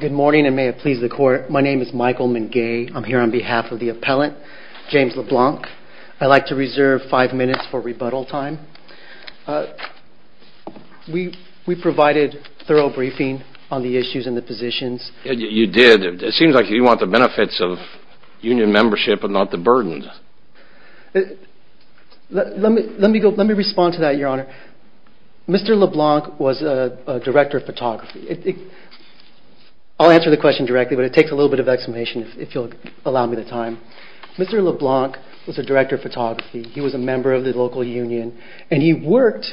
Good morning, and may it please the Court. My name is Michael Mungay. I'm here on behalf of the appellant, James LeBlanc. I'd like to reserve five minutes for rebuttal time. We provided thorough briefing on the issues and the positions. You did. It seems like you want the benefits of union membership and not the burden. Let me respond to that, Your Honor. Mr. LeBlanc was a director of photography. I'll answer the question directly, but it takes a little bit of explanation, if you'll allow me the time. Mr. LeBlanc was a director of photography. He was a member of the local union, and he worked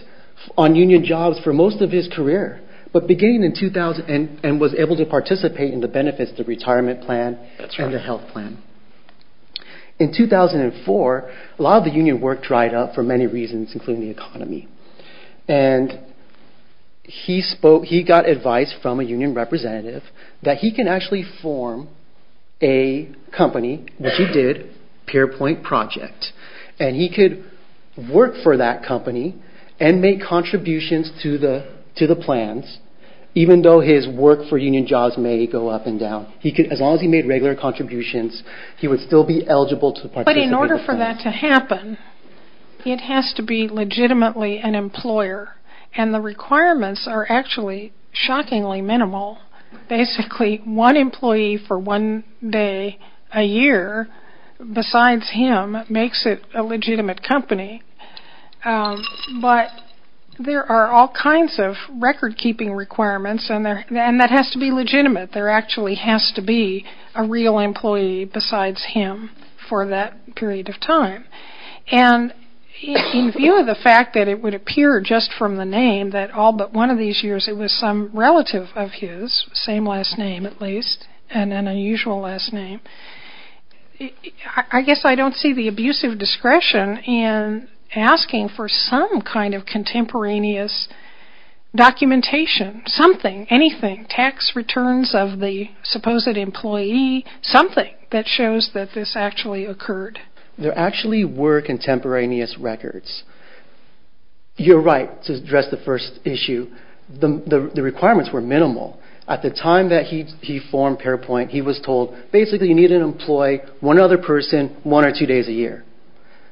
on union jobs for most of his career, and was able to participate in the benefits of the retirement plan and the health plan. In 2004, a lot of the union work dried up for many reasons, including the economy, and he got advice from a union representative that he can actually form a company, which he did, PeerPoint Project, and he could work for that company and make contributions to the plans, even though his work for union jobs may go up and down. As long as he made regular contributions, he would still be eligible to participate. But in order for that to happen, it has to be legitimately an employer, and the requirements are actually shockingly minimal. Basically, one employee for one day a year, besides him, makes it a legitimate company, but there are all kinds of record-keeping requirements, and that has to be legitimate. There actually has to be a real employee besides him for that period of time. In view of the fact that it would appear just from the name that all but one of these years it was some relative of his, same last name at least, and an unusual last name, I guess I don't see the abusive discretion in asking for some kind of contemporaneous documentation, something, anything, tax returns of the supposed employee, something that shows that this actually occurred. There actually were contemporaneous records. You're right to address the first issue. The requirements were minimal. At the time that he formed PeerPoint, he was told, basically you need an employee, one other person, one or two days a year.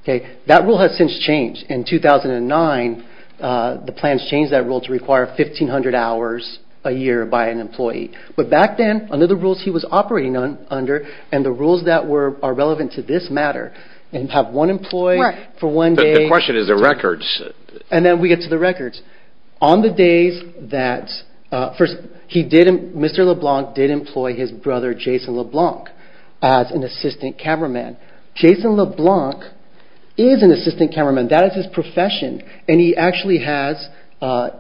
That rule has since changed. In 2009, the plans changed that rule to require 1,500 hours a year by an employee. But back then, under the rules he was operating under, and the rules that are relevant to this matter, and have one employee for one day… The question is the records. And then we get to the records. Mr. LeBlanc did employ his brother Jason LeBlanc as an assistant cameraman. Jason LeBlanc is an assistant cameraman. That is his profession, and he actually has,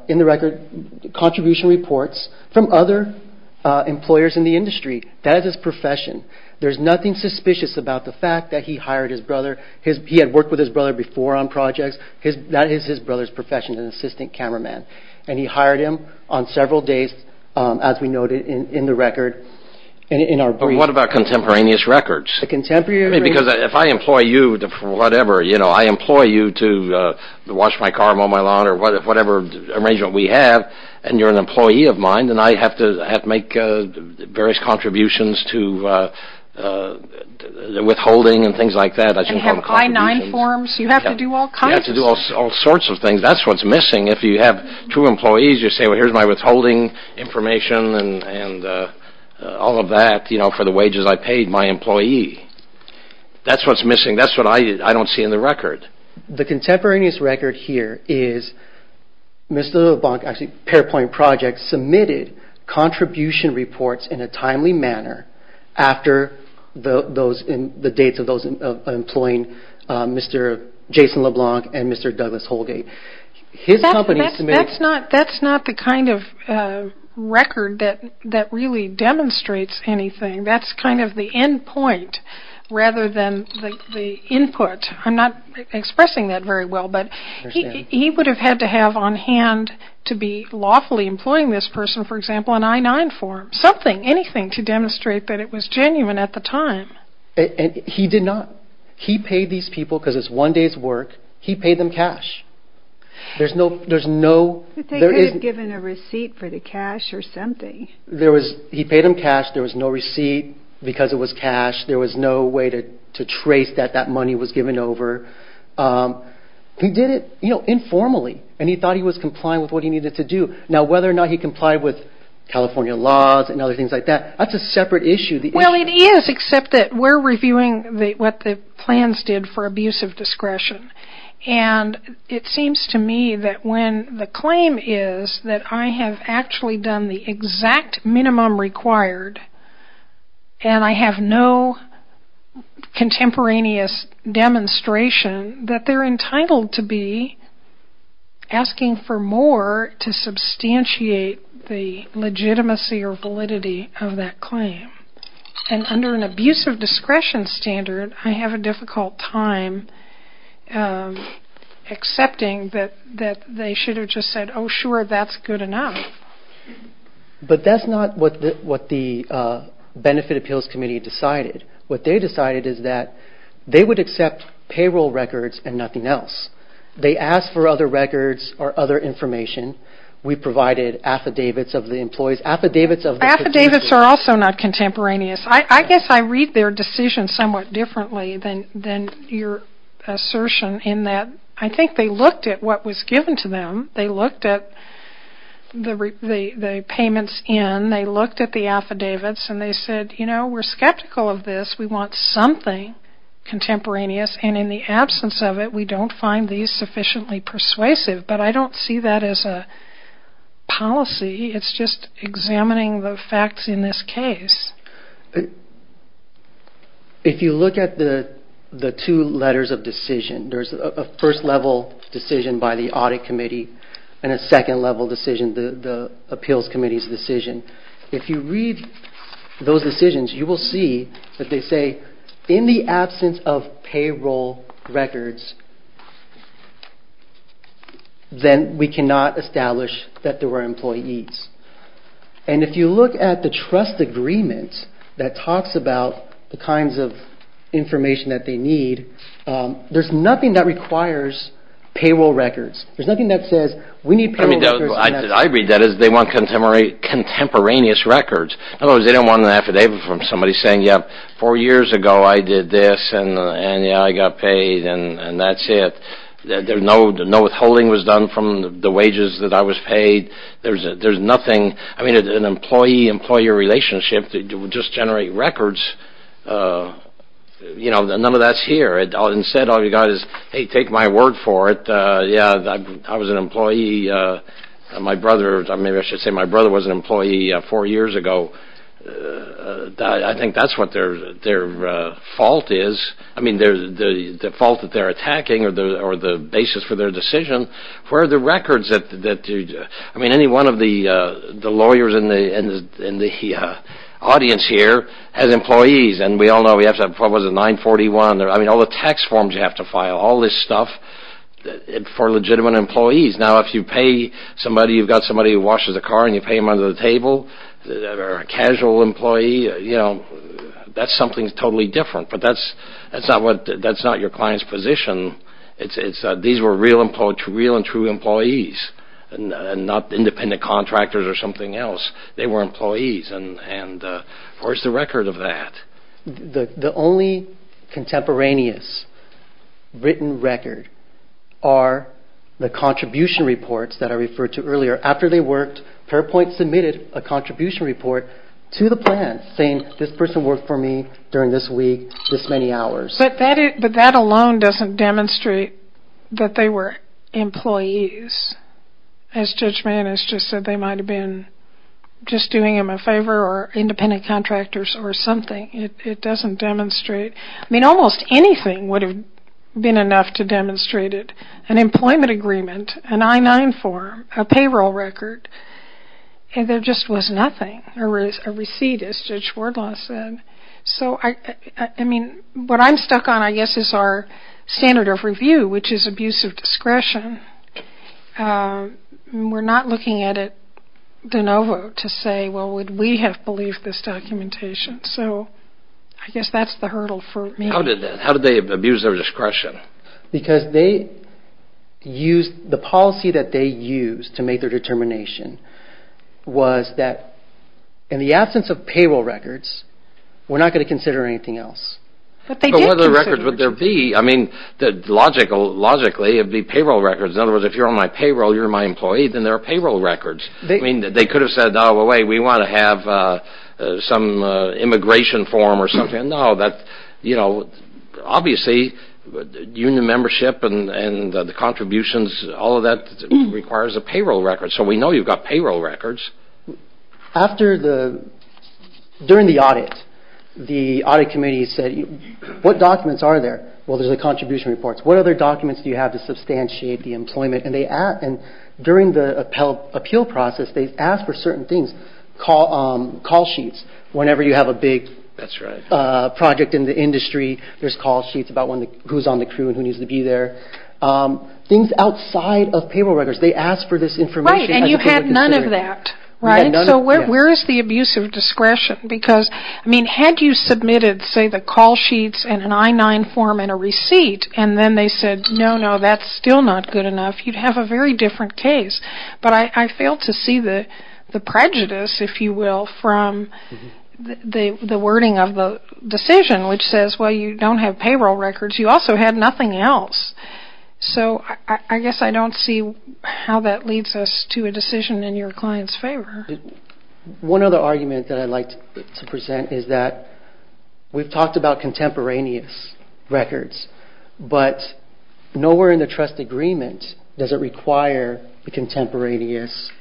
in the record, contribution reports from other employers in the industry. That is his profession. There's nothing suspicious about the fact that he hired his brother. He had worked with his brother before on projects. That is his brother's profession, an assistant cameraman. And he hired him on several days, as we noted in the record. But what about contemporaneous records? Because if I employ you to wash my car, mow my lawn, or whatever arrangement we have, and you're an employee of mine, then I have to make various contributions to withholding and things like that. And have I-9 forms. You have to do all kinds of things. You have to do all sorts of things. That's what's missing. If you have two employees, you say, well, here's my withholding information and all of that, you know, for the wages I paid my employee. That's what's missing. That's what I don't see in the record. The contemporaneous record here is Mr. LeBlanc, actually, Pairpoint Project, submitted contribution reports in a timely manner after the dates of those employing Mr. Jason LeBlanc and Mr. Douglas Holgate. That's not the kind of record that really demonstrates anything. That's kind of the end point rather than the input. I'm not expressing that very well, but he would have had to have on hand to be lawfully employing this person, for example, an I-9 form, something, anything to demonstrate that it was genuine at the time. He did not. He paid these people because it's one day's work. He paid them cash. There's no- But they could have given a receipt for the cash or something. He paid them cash. There was no receipt because it was cash. There was no way to trace that that money was given over. He did it informally, and he thought he was complying with what he needed to do. Now, whether or not he complied with California laws and other things like that, that's a separate issue. Well, it is, except that we're reviewing what the plans did for abuse of discretion, and it seems to me that when the claim is that I have actually done the exact minimum required and I have no contemporaneous demonstration, that they're entitled to be asking for more to substantiate the legitimacy or validity of that claim. And under an abuse of discretion standard, I have a difficult time accepting that they should have just said, oh, sure, that's good enough. But that's not what the Benefit Appeals Committee decided. What they decided is that they would accept payroll records and nothing else. They asked for other records or other information. We provided affidavits of the employees, affidavits of the- Affidavits are also not contemporaneous. I guess I read their decision somewhat differently than your assertion in that I think they looked at what was given to them. They looked at the payments in. They looked at the affidavits, and they said, you know, we're skeptical of this. We want something contemporaneous, and in the absence of it, we don't find these sufficiently persuasive. But I don't see that as a policy. It's just examining the facts in this case. If you look at the two letters of decision, there's a first level decision by the Audit Committee and a second level decision, the Appeals Committee's decision. If you read those decisions, you will see that they say, in the absence of payroll records, then we cannot establish that there were employees. And if you look at the trust agreement that talks about the kinds of information that they need, there's nothing that requires payroll records. There's nothing that says, we need payroll records. I read that as they want contemporaneous records. In other words, they don't want an affidavit from somebody saying, yeah, four years ago I did this, and yeah, I got paid, and that's it. No withholding was done from the wages that I was paid. There's nothing. I mean, an employee-employee relationship would just generate records. You know, none of that's here. Instead, all you've got is, hey, take my word for it. Yeah, I was an employee. My brother – maybe I should say my brother was an employee four years ago. I think that's what their fault is. I mean, the fault that they're attacking or the basis for their decision. Where are the records that – I mean, any one of the lawyers in the audience here has employees, and we all know we have to have – what was it, 941? I mean, all the tax forms you have to file, all this stuff for legitimate employees. Now, if you pay somebody, you've got somebody who washes a car, and you pay them under the table, or a casual employee, you know, that's something totally different. But that's not your client's position. These were real and true employees and not independent contractors or something else. They were employees, and where's the record of that? The only contemporaneous written record are the contribution reports that I referred to earlier. After they worked, Fairpoint submitted a contribution report to the plan saying, this person worked for me during this week, this many hours. But that alone doesn't demonstrate that they were employees. As Judge Mann has just said, they might have been just doing them a favor or independent contractors or something. It doesn't demonstrate – I mean, almost anything would have been enough to demonstrate it. An employment agreement, an I-9 form, a payroll record, and there just was nothing. There was a receipt, as Judge Wardlaw said. So, I mean, what I'm stuck on, I guess, is our standard of review, which is abuse of discretion. We're not looking at it de novo to say, well, would we have believed this documentation? So, I guess that's the hurdle for me. How did they abuse their discretion? Because they used – the policy that they used to make their determination was that in the absence of payroll records, we're not going to consider anything else. But they did consider records. But what other records would there be? I mean, logically, it would be payroll records. In other words, if you're on my payroll, you're my employee, then there are payroll records. I mean, they could have said, no, wait, we want to have some immigration form or something. No, that – you know, obviously, union membership and the contributions, all of that requires a payroll record. So, we know you've got payroll records. After the – during the audit, the audit committee said, what documents are there? Well, there's the contribution reports. What other documents do you have to substantiate the employment? And they – and during the appeal process, they asked for certain things, call sheets, whenever you have a big – That's right. Project in the industry, there's call sheets about when the – who's on the crew and who needs to be there. Things outside of payroll records. They asked for this information. Right. And you had none of that. Right. So, where is the abuse of discretion? Because, I mean, had you submitted, say, the call sheets and an I-9 form and a receipt, and then they said, no, no, that's still not good enough, you'd have a very different case. But I failed to see the prejudice, if you will, from the wording of the decision, which says, well, you don't have payroll records. You also had nothing else. So, I guess I don't see how that leads us to a decision in your client's favor. One other argument that I'd like to present is that we've talked about contemporaneous records, but nowhere in the trust agreement does it require the contemporaneous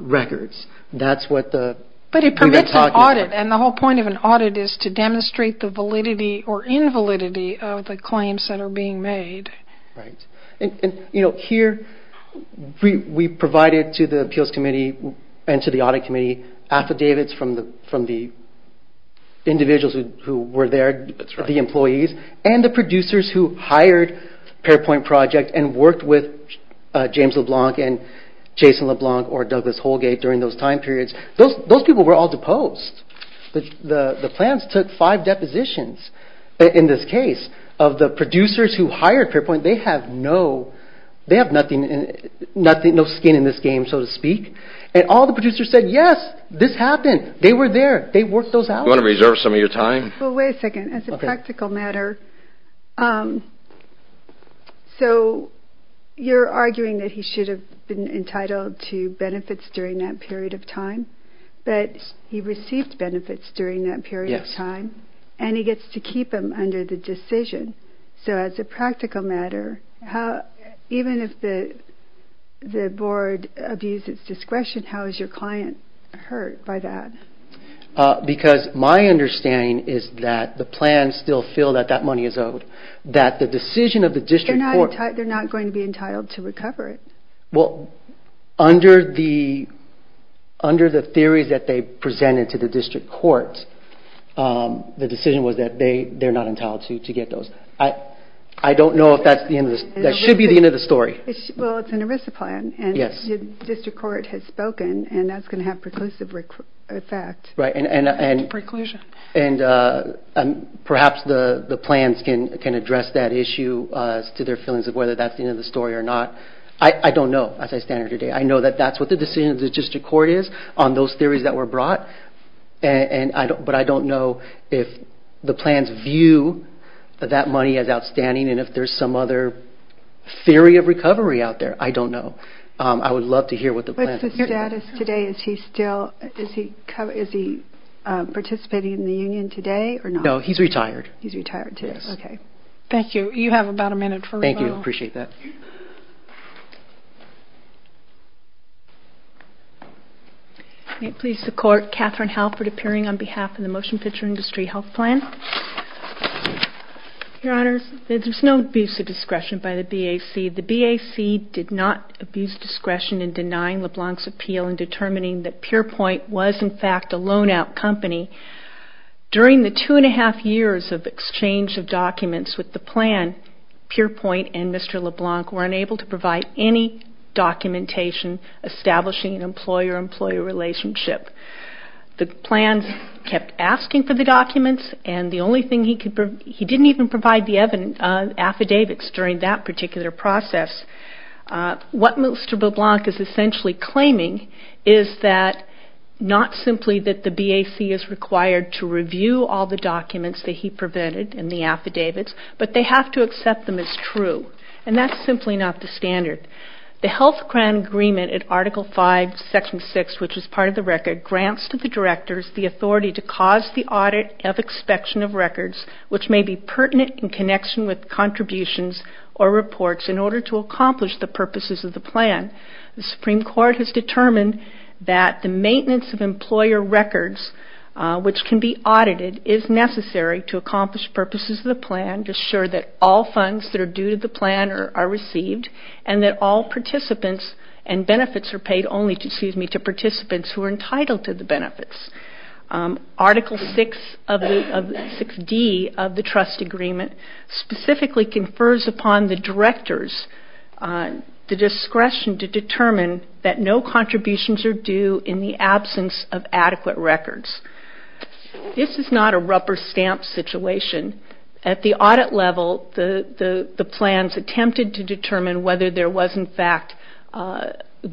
records. That's what the – But it permits an audit, and the whole point of an audit is to demonstrate the validity or invalidity of the claims that are being made. Right. And, you know, here we provided to the appeals committee and to the audit committee affidavits from the individuals who were there. That's right. The employees and the producers who hired Parapoint Project and worked with James LeBlanc and Jason LeBlanc or Douglas Holgate during those time periods. Those people were all deposed. The plans took five depositions in this case of the producers who hired Parapoint. They have no – they have nothing – no skin in this game, so to speak. And all the producers said, yes, this happened. They were there. They worked those out. Do you want to reserve some of your time? Well, wait a second. As a practical matter, so you're arguing that he should have been entitled to benefits during that period of time. But he received benefits during that period of time. Yes. And he gets to keep them under the decision. So as a practical matter, even if the board abuses discretion, how is your client hurt by that? Because my understanding is that the plans still feel that that money is owed, that the decision of the district court – They're not going to be entitled to recover it. Well, under the theories that they presented to the district court, the decision was that they're not entitled to get those. I don't know if that's the end of the – that should be the end of the story. Well, it's an ERISA plan. Yes. And the district court has spoken, and that's going to have preclusive effect. Right. Preclusion. And perhaps the plans can address that issue as to their feelings of whether that's the end of the story or not. I don't know, as I stand here today. I know that that's what the decision of the district court is on those theories that were brought, but I don't know if the plans view that money as outstanding and if there's some other theory of recovery out there. I don't know. I would love to hear what the plans say. What's the status today? Is he still – is he participating in the union today or not? No, he's retired. He's retired today. Yes. Okay. Thank you. You have about a minute for rebuttal. Thank you. I appreciate that. May it please the Court, Katherine Halpert appearing on behalf of the Motion Picture Industry Health Plan. Your Honors, there's no abuse of discretion by the BAC. The BAC did not abuse discretion in denying LeBlanc's appeal in determining that PurePoint was, in fact, a loan-out company. During the two-and-a-half years of exchange of documents with the plan, PurePoint and Mr. LeBlanc were unable to provide any documentation establishing an employer-employee relationship. The plans kept asking for the documents, and the only thing he could – he didn't even provide the affidavits during that particular process. What Mr. LeBlanc is essentially claiming is that – not simply that the BAC is required to review all the documents that he prevented in the affidavits, but they have to accept them as true, and that's simply not the standard. The health plan agreement in Article 5, Section 6, which is part of the record, grants to the directors the authority to cause the audit of inspection of records, which may be pertinent in connection with contributions or reports, in order to accomplish the purposes of the plan. The Supreme Court has determined that the maintenance of employer records, which can be audited, is necessary to accomplish purposes of the plan, to assure that all funds that are due to the plan are received, and that all participants and benefits are paid only to participants who are entitled to the benefits. Article 6D of the trust agreement specifically confers upon the directors the discretion to determine that no contributions are due in the absence of adequate records. This is not a rupper stamp situation. At the audit level, the plans attempted to determine whether there was in fact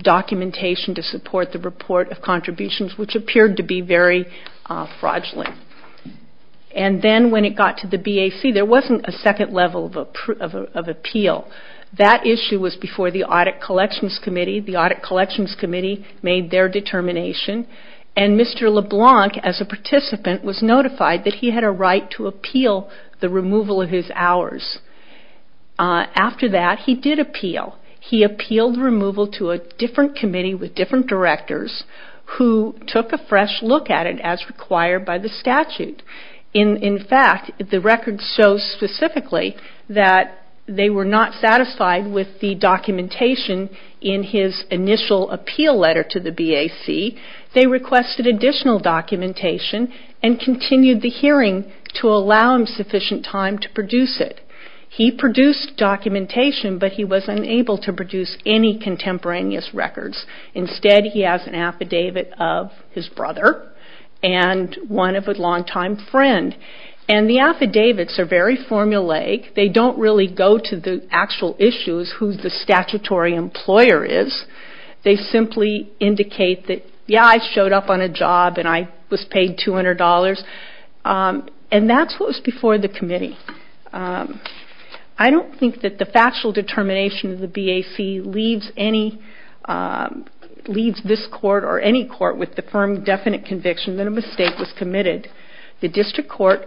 documentation to support the report of contributions, which appeared to be very fraudulent. And then when it got to the BAC, there wasn't a second level of appeal. That issue was before the Audit Collections Committee. The Audit Collections Committee made their determination, and Mr. LeBlanc, as a participant, was notified that he had a right to appeal the removal of his hours. After that, he did appeal. He appealed the removal to a different committee with different directors who took a fresh look at it as required by the statute. In fact, the record shows specifically that they were not satisfied with the documentation in his initial appeal letter to the BAC. They requested additional documentation and continued the hearing to allow him sufficient time to produce it. He produced documentation, but he was unable to produce any contemporaneous records. Instead, he has an affidavit of his brother and one of a longtime friend. And the affidavits are very formulaic. They don't really go to the actual issues, who the statutory employer is. They simply indicate that, yeah, I showed up on a job and I was paid $200. And that's what was before the committee. I don't think that the factual determination of the BAC leaves this court or any court with the firm definite conviction that a mistake was committed. The district court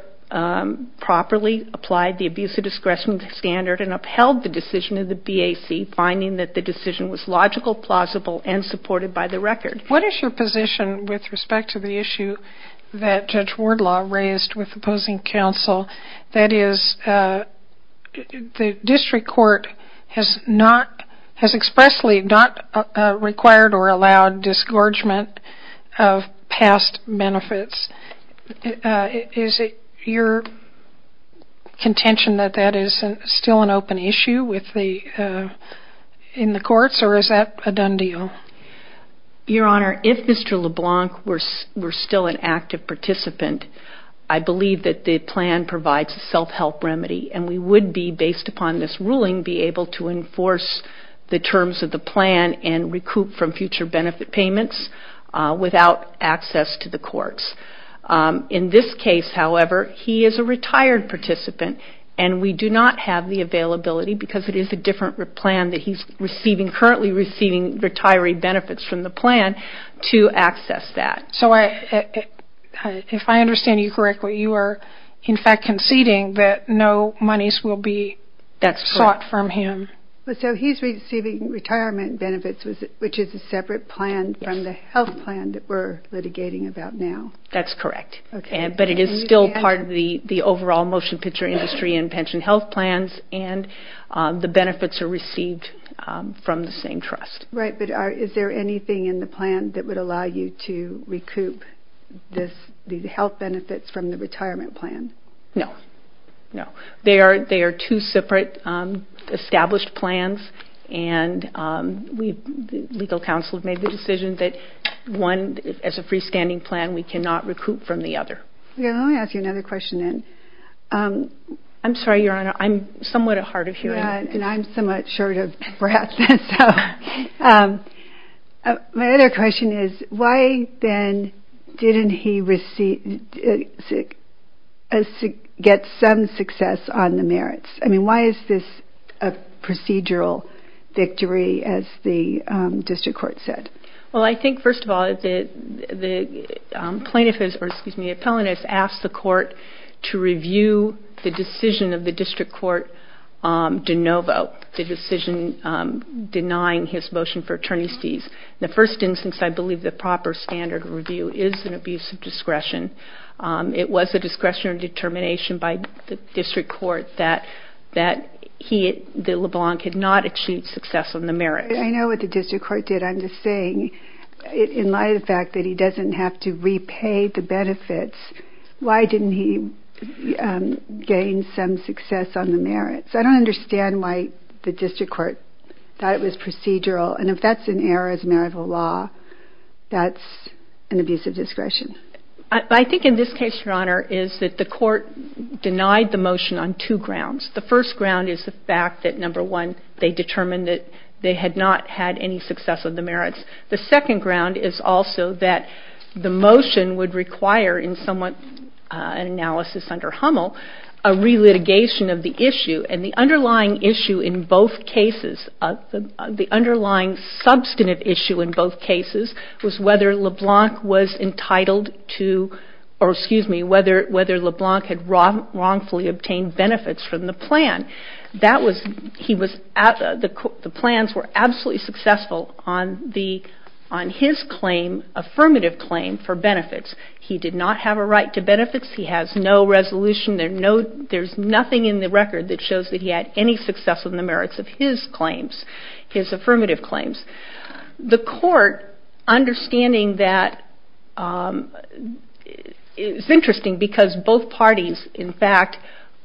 properly applied the abuse of discretion standard and upheld the decision of the BAC, finding that the decision was logical, plausible, and supported by the record. What is your position with respect to the issue that Judge Wardlaw raised with opposing counsel? That is, the district court has expressly not required or allowed disgorgement of past benefits. Is it your contention that that is still an open issue in the courts, or is that a done deal? Your Honor, if Mr. LeBlanc were still an active participant, I believe that the plan provides a self-help remedy, and we would be, based upon this ruling, be able to enforce the terms of the plan and recoup from future benefit payments without access to the courts. In this case, however, he is a retired participant, and we do not have the availability because it is a different plan that he is currently receiving retiree benefits from the plan to access that. If I understand you correctly, you are, in fact, conceding that no monies will be sought from him. So he is receiving retirement benefits, which is a separate plan from the health plan that we are litigating about now. That is correct, but it is still part of the overall motion picture industry in pension health plans, and the benefits are received from the same trust. Right, but is there anything in the plan that would allow you to recoup the health benefits from the retirement plan? No, no. They are two separate established plans, and the legal counsel has made the decision that one, as a freestanding plan, we cannot recoup from the other. Let me ask you another question then. I'm sorry, Your Honor, I'm somewhat at heart of hearing this. And I'm somewhat short of breath. My other question is, why then didn't he get some success on the merits? I mean, why is this a procedural victory, as the district court said? Well, I think, first of all, the plaintiff, or excuse me, the appellant has asked the court to review the decision of the district court de novo, the decision denying his motion for attorney's fees. In the first instance, I believe the proper standard of review is an abuse of discretion. It was a discretion or determination by the district court that LeBlanc had not achieved success on the merits. I know what the district court did. I'm just saying, in light of the fact that he doesn't have to repay the benefits, why didn't he gain some success on the merits? I don't understand why the district court thought it was procedural. And if that's an error as a matter of law, that's an abuse of discretion. I think in this case, Your Honor, is that the court denied the motion on two grounds. The first ground is the fact that, number one, they determined that they had not had any success on the merits. The second ground is also that the motion would require, in somewhat an analysis under Hummel, a relitigation of the issue. And the underlying issue in both cases, the underlying substantive issue in both cases, was whether LeBlanc was entitled to, or excuse me, whether LeBlanc had wrongfully obtained benefits from the plan. The plans were absolutely successful on his claim, affirmative claim, for benefits. He did not have a right to benefits. He has no resolution. There's nothing in the record that shows that he had any success on the merits of his claims, his affirmative claims. The court, understanding that, it's interesting because both parties, in fact,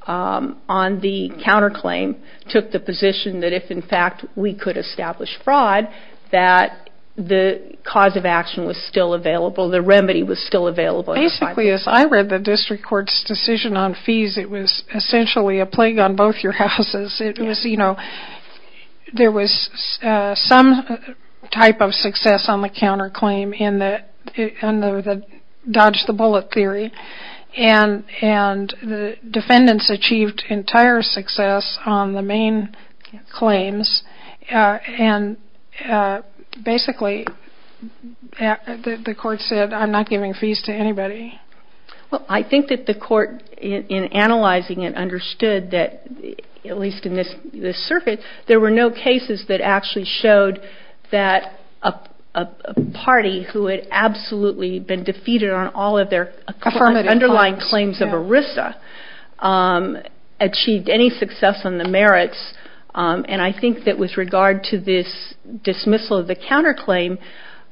on the counterclaim, took the position that if, in fact, we could establish fraud, that the cause of action was still available, the remedy was still available. Basically, as I read the district court's decision on fees, it was essentially a plague on both your houses. It was, you know, there was some type of success on the counterclaim in the dodge-the-bullet theory, and the defendants achieved entire success on the main claims. And basically, the court said, I'm not giving fees to anybody. Well, I think that the court, in analyzing it, understood that, at least in this circuit, there were no cases that actually showed that a party who had absolutely been defeated on all of their underlying claims of ERISA achieved any success on the merits, and I think that with regard to this dismissal of the counterclaim,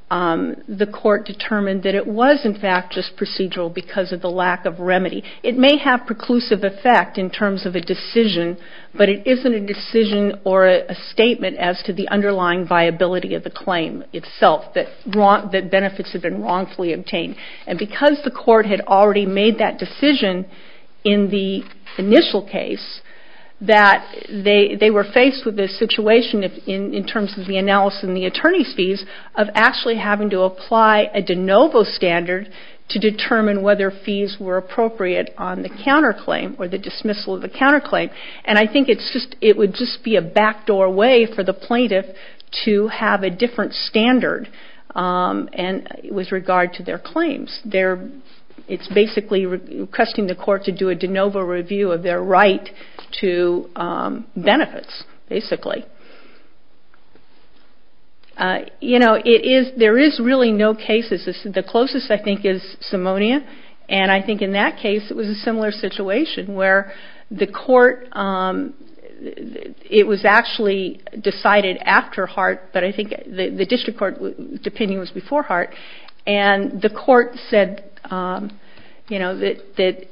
the court determined that it was, in fact, just procedural because of the lack of remedy. It may have preclusive effect in terms of a decision, but it isn't a decision or a statement as to the underlying viability of the claim itself, that benefits have been wrongfully obtained. And because the court had already made that decision in the initial case, that they were faced with this situation in terms of the analysis and the attorney's fees of actually having to apply a de novo standard to determine whether fees were appropriate on the counterclaim or the dismissal of the counterclaim, and I think it would just be a backdoor way for the plaintiff to have a different standard with regard to their claims. It's basically requesting the court to do a de novo review of their right to benefits, basically. You know, there is really no cases. The closest, I think, is Simonia, and I think in that case it was a similar situation where the court, it was actually decided after Hart, but I think the district court opinion was before Hart, and the court said, you know, that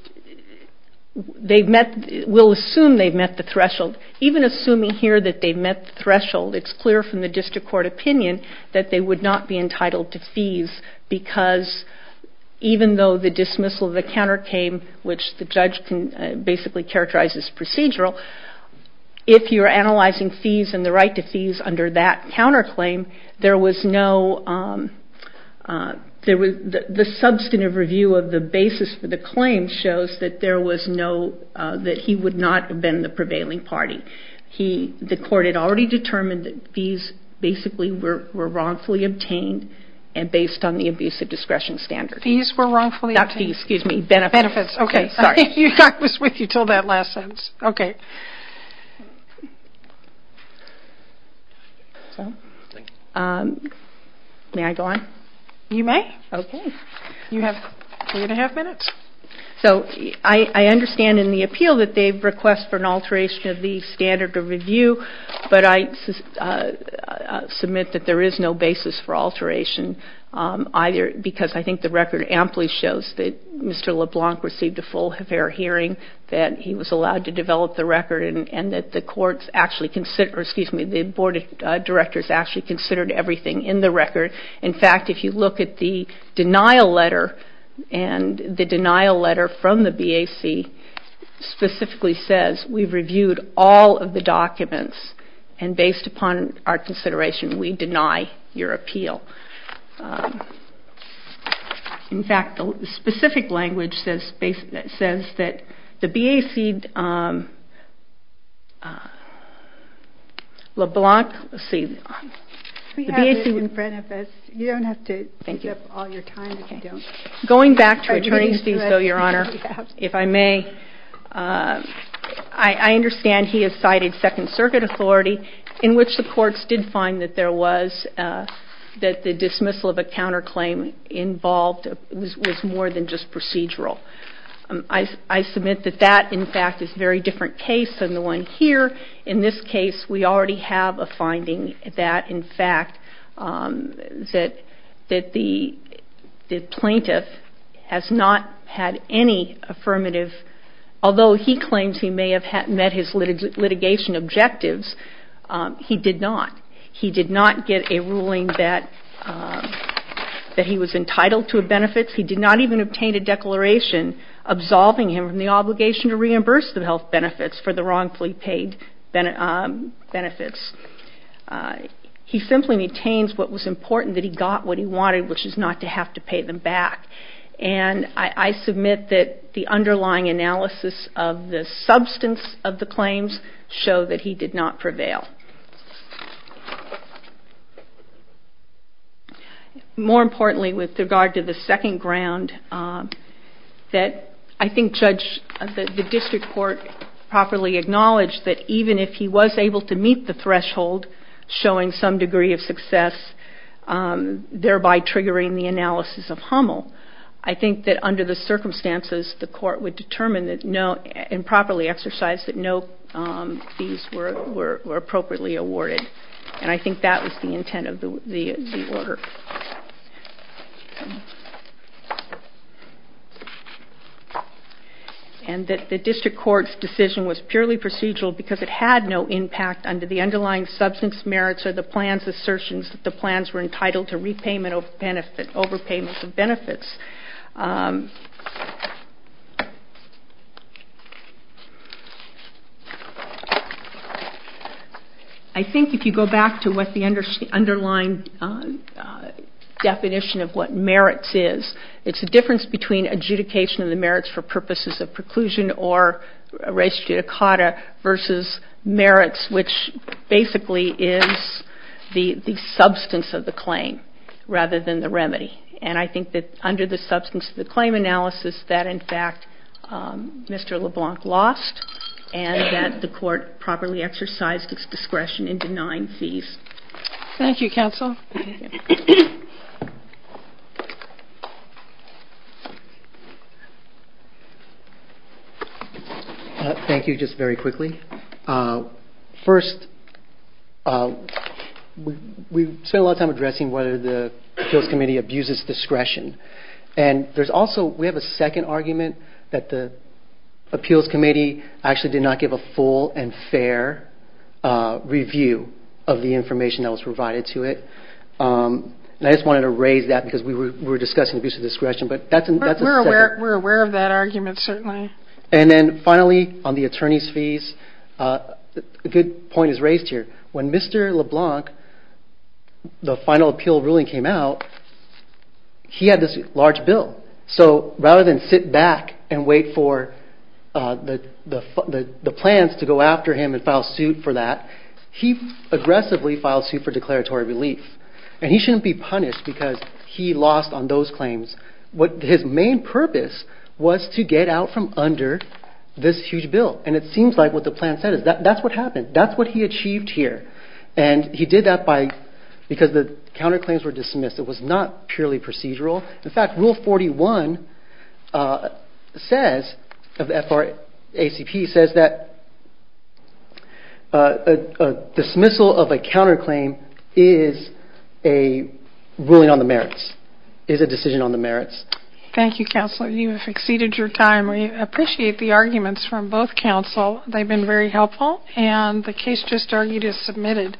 they've met, we'll assume they've met the threshold. Even assuming here that they've met the threshold, it's clear from the district court opinion that they would not be entitled to fees because even though the dismissal of the counterclaim, which the judge can basically characterize as procedural, if you're analyzing fees and the right to fees under that counterclaim, there was no, the substantive review of the basis for the claim shows that there was no, that he would not have been the prevailing party. The court had already determined that fees basically were wrongfully obtained and based on the abuse of discretion standard. Fees were wrongfully obtained? Not fees, excuse me, benefits. Benefits, okay. Sorry. I was with you until that last sentence. Okay. May I go on? You may. Okay. You have three and a half minutes. So I understand in the appeal that they request for an alteration of the standard of review, but I submit that there is no basis for alteration either because I think the record amply shows that Mr. LeBlanc received a full fair hearing, that he was allowed to develop the record and that the courts actually considered, excuse me, the board of directors actually considered everything in the record. In fact, if you look at the denial letter and the denial letter from the BAC specifically says, we've reviewed all of the documents and based upon our consideration, we deny your appeal. In fact, the specific language says that the BAC LeBlanc received. We have it in front of us. You don't have to give up all your time if you don't. Going back to attorney's fees though, Your Honor, if I may, I understand he has cited second circuit authority in which the courts did find that there was, that the dismissal of a counterclaim involved was more than just procedural. I submit that that, in fact, is a very different case than the one here. In this case, we already have a finding that, in fact, that the plaintiff has not had any affirmative, although he claims he may have met his litigation objectives, he did not. He did not get a ruling that he was entitled to benefits. He did not even obtain a declaration absolving him from the obligation to reimburse the health benefits for the wrongfully paid benefits. He simply maintains what was important, that he got what he wanted, which is not to have to pay them back. I submit that the underlying analysis of the substance of the claims show that he did not prevail. More importantly, with regard to the second ground, I think the district court properly acknowledged that even if he was able to meet the threshold, showing some degree of success, thereby triggering the analysis of Hummel, I think that under the circumstances, the court would determine that no, and properly exercise that no fees were appropriately awarded. And I think that was the intent of the order. And that the district court's decision was purely procedural because it had no impact under the underlying substance merits or the plans assertions that the plans were entitled to repayment of benefits, overpayments of benefits. I think if you go back to what the underlying definition of what merits is, it's the difference between adjudication of the merits for purposes of preclusion or res judicata versus merits, which basically is the substance of the claim rather than the remedy. And I think that under the substance of the claim analysis, that in fact Mr. LeBlanc lost and that the court properly exercised its discretion in denying fees. Thank you, counsel. Thank you, just very quickly. First, we spent a lot of time addressing whether the appeals committee abuses discretion. And there's also, we have a second argument that the appeals committee actually did not give a full and fair review of the information that was provided to it. And I just wanted to raise that because we were discussing abuse of discretion. We're aware of that argument, certainly. And then finally, on the attorney's fees, a good point is raised here. When Mr. LeBlanc, the final appeal ruling came out, he had this large bill. So rather than sit back and wait for the plans to go after him and file suit for that, he aggressively filed suit for declaratory relief. And he shouldn't be punished because he lost on those claims. His main purpose was to get out from under this huge bill. And it seems like what the plan said is that's what happened. That's what he achieved here. And he did that because the counterclaims were dismissed. It was not purely procedural. In fact, Rule 41 of the ACP says that a dismissal of a counterclaim is a ruling on the merits, is a decision on the merits. Thank you, Counselor. You have exceeded your time. We appreciate the arguments from both counsel. They've been very helpful. And the case just argued is submitted.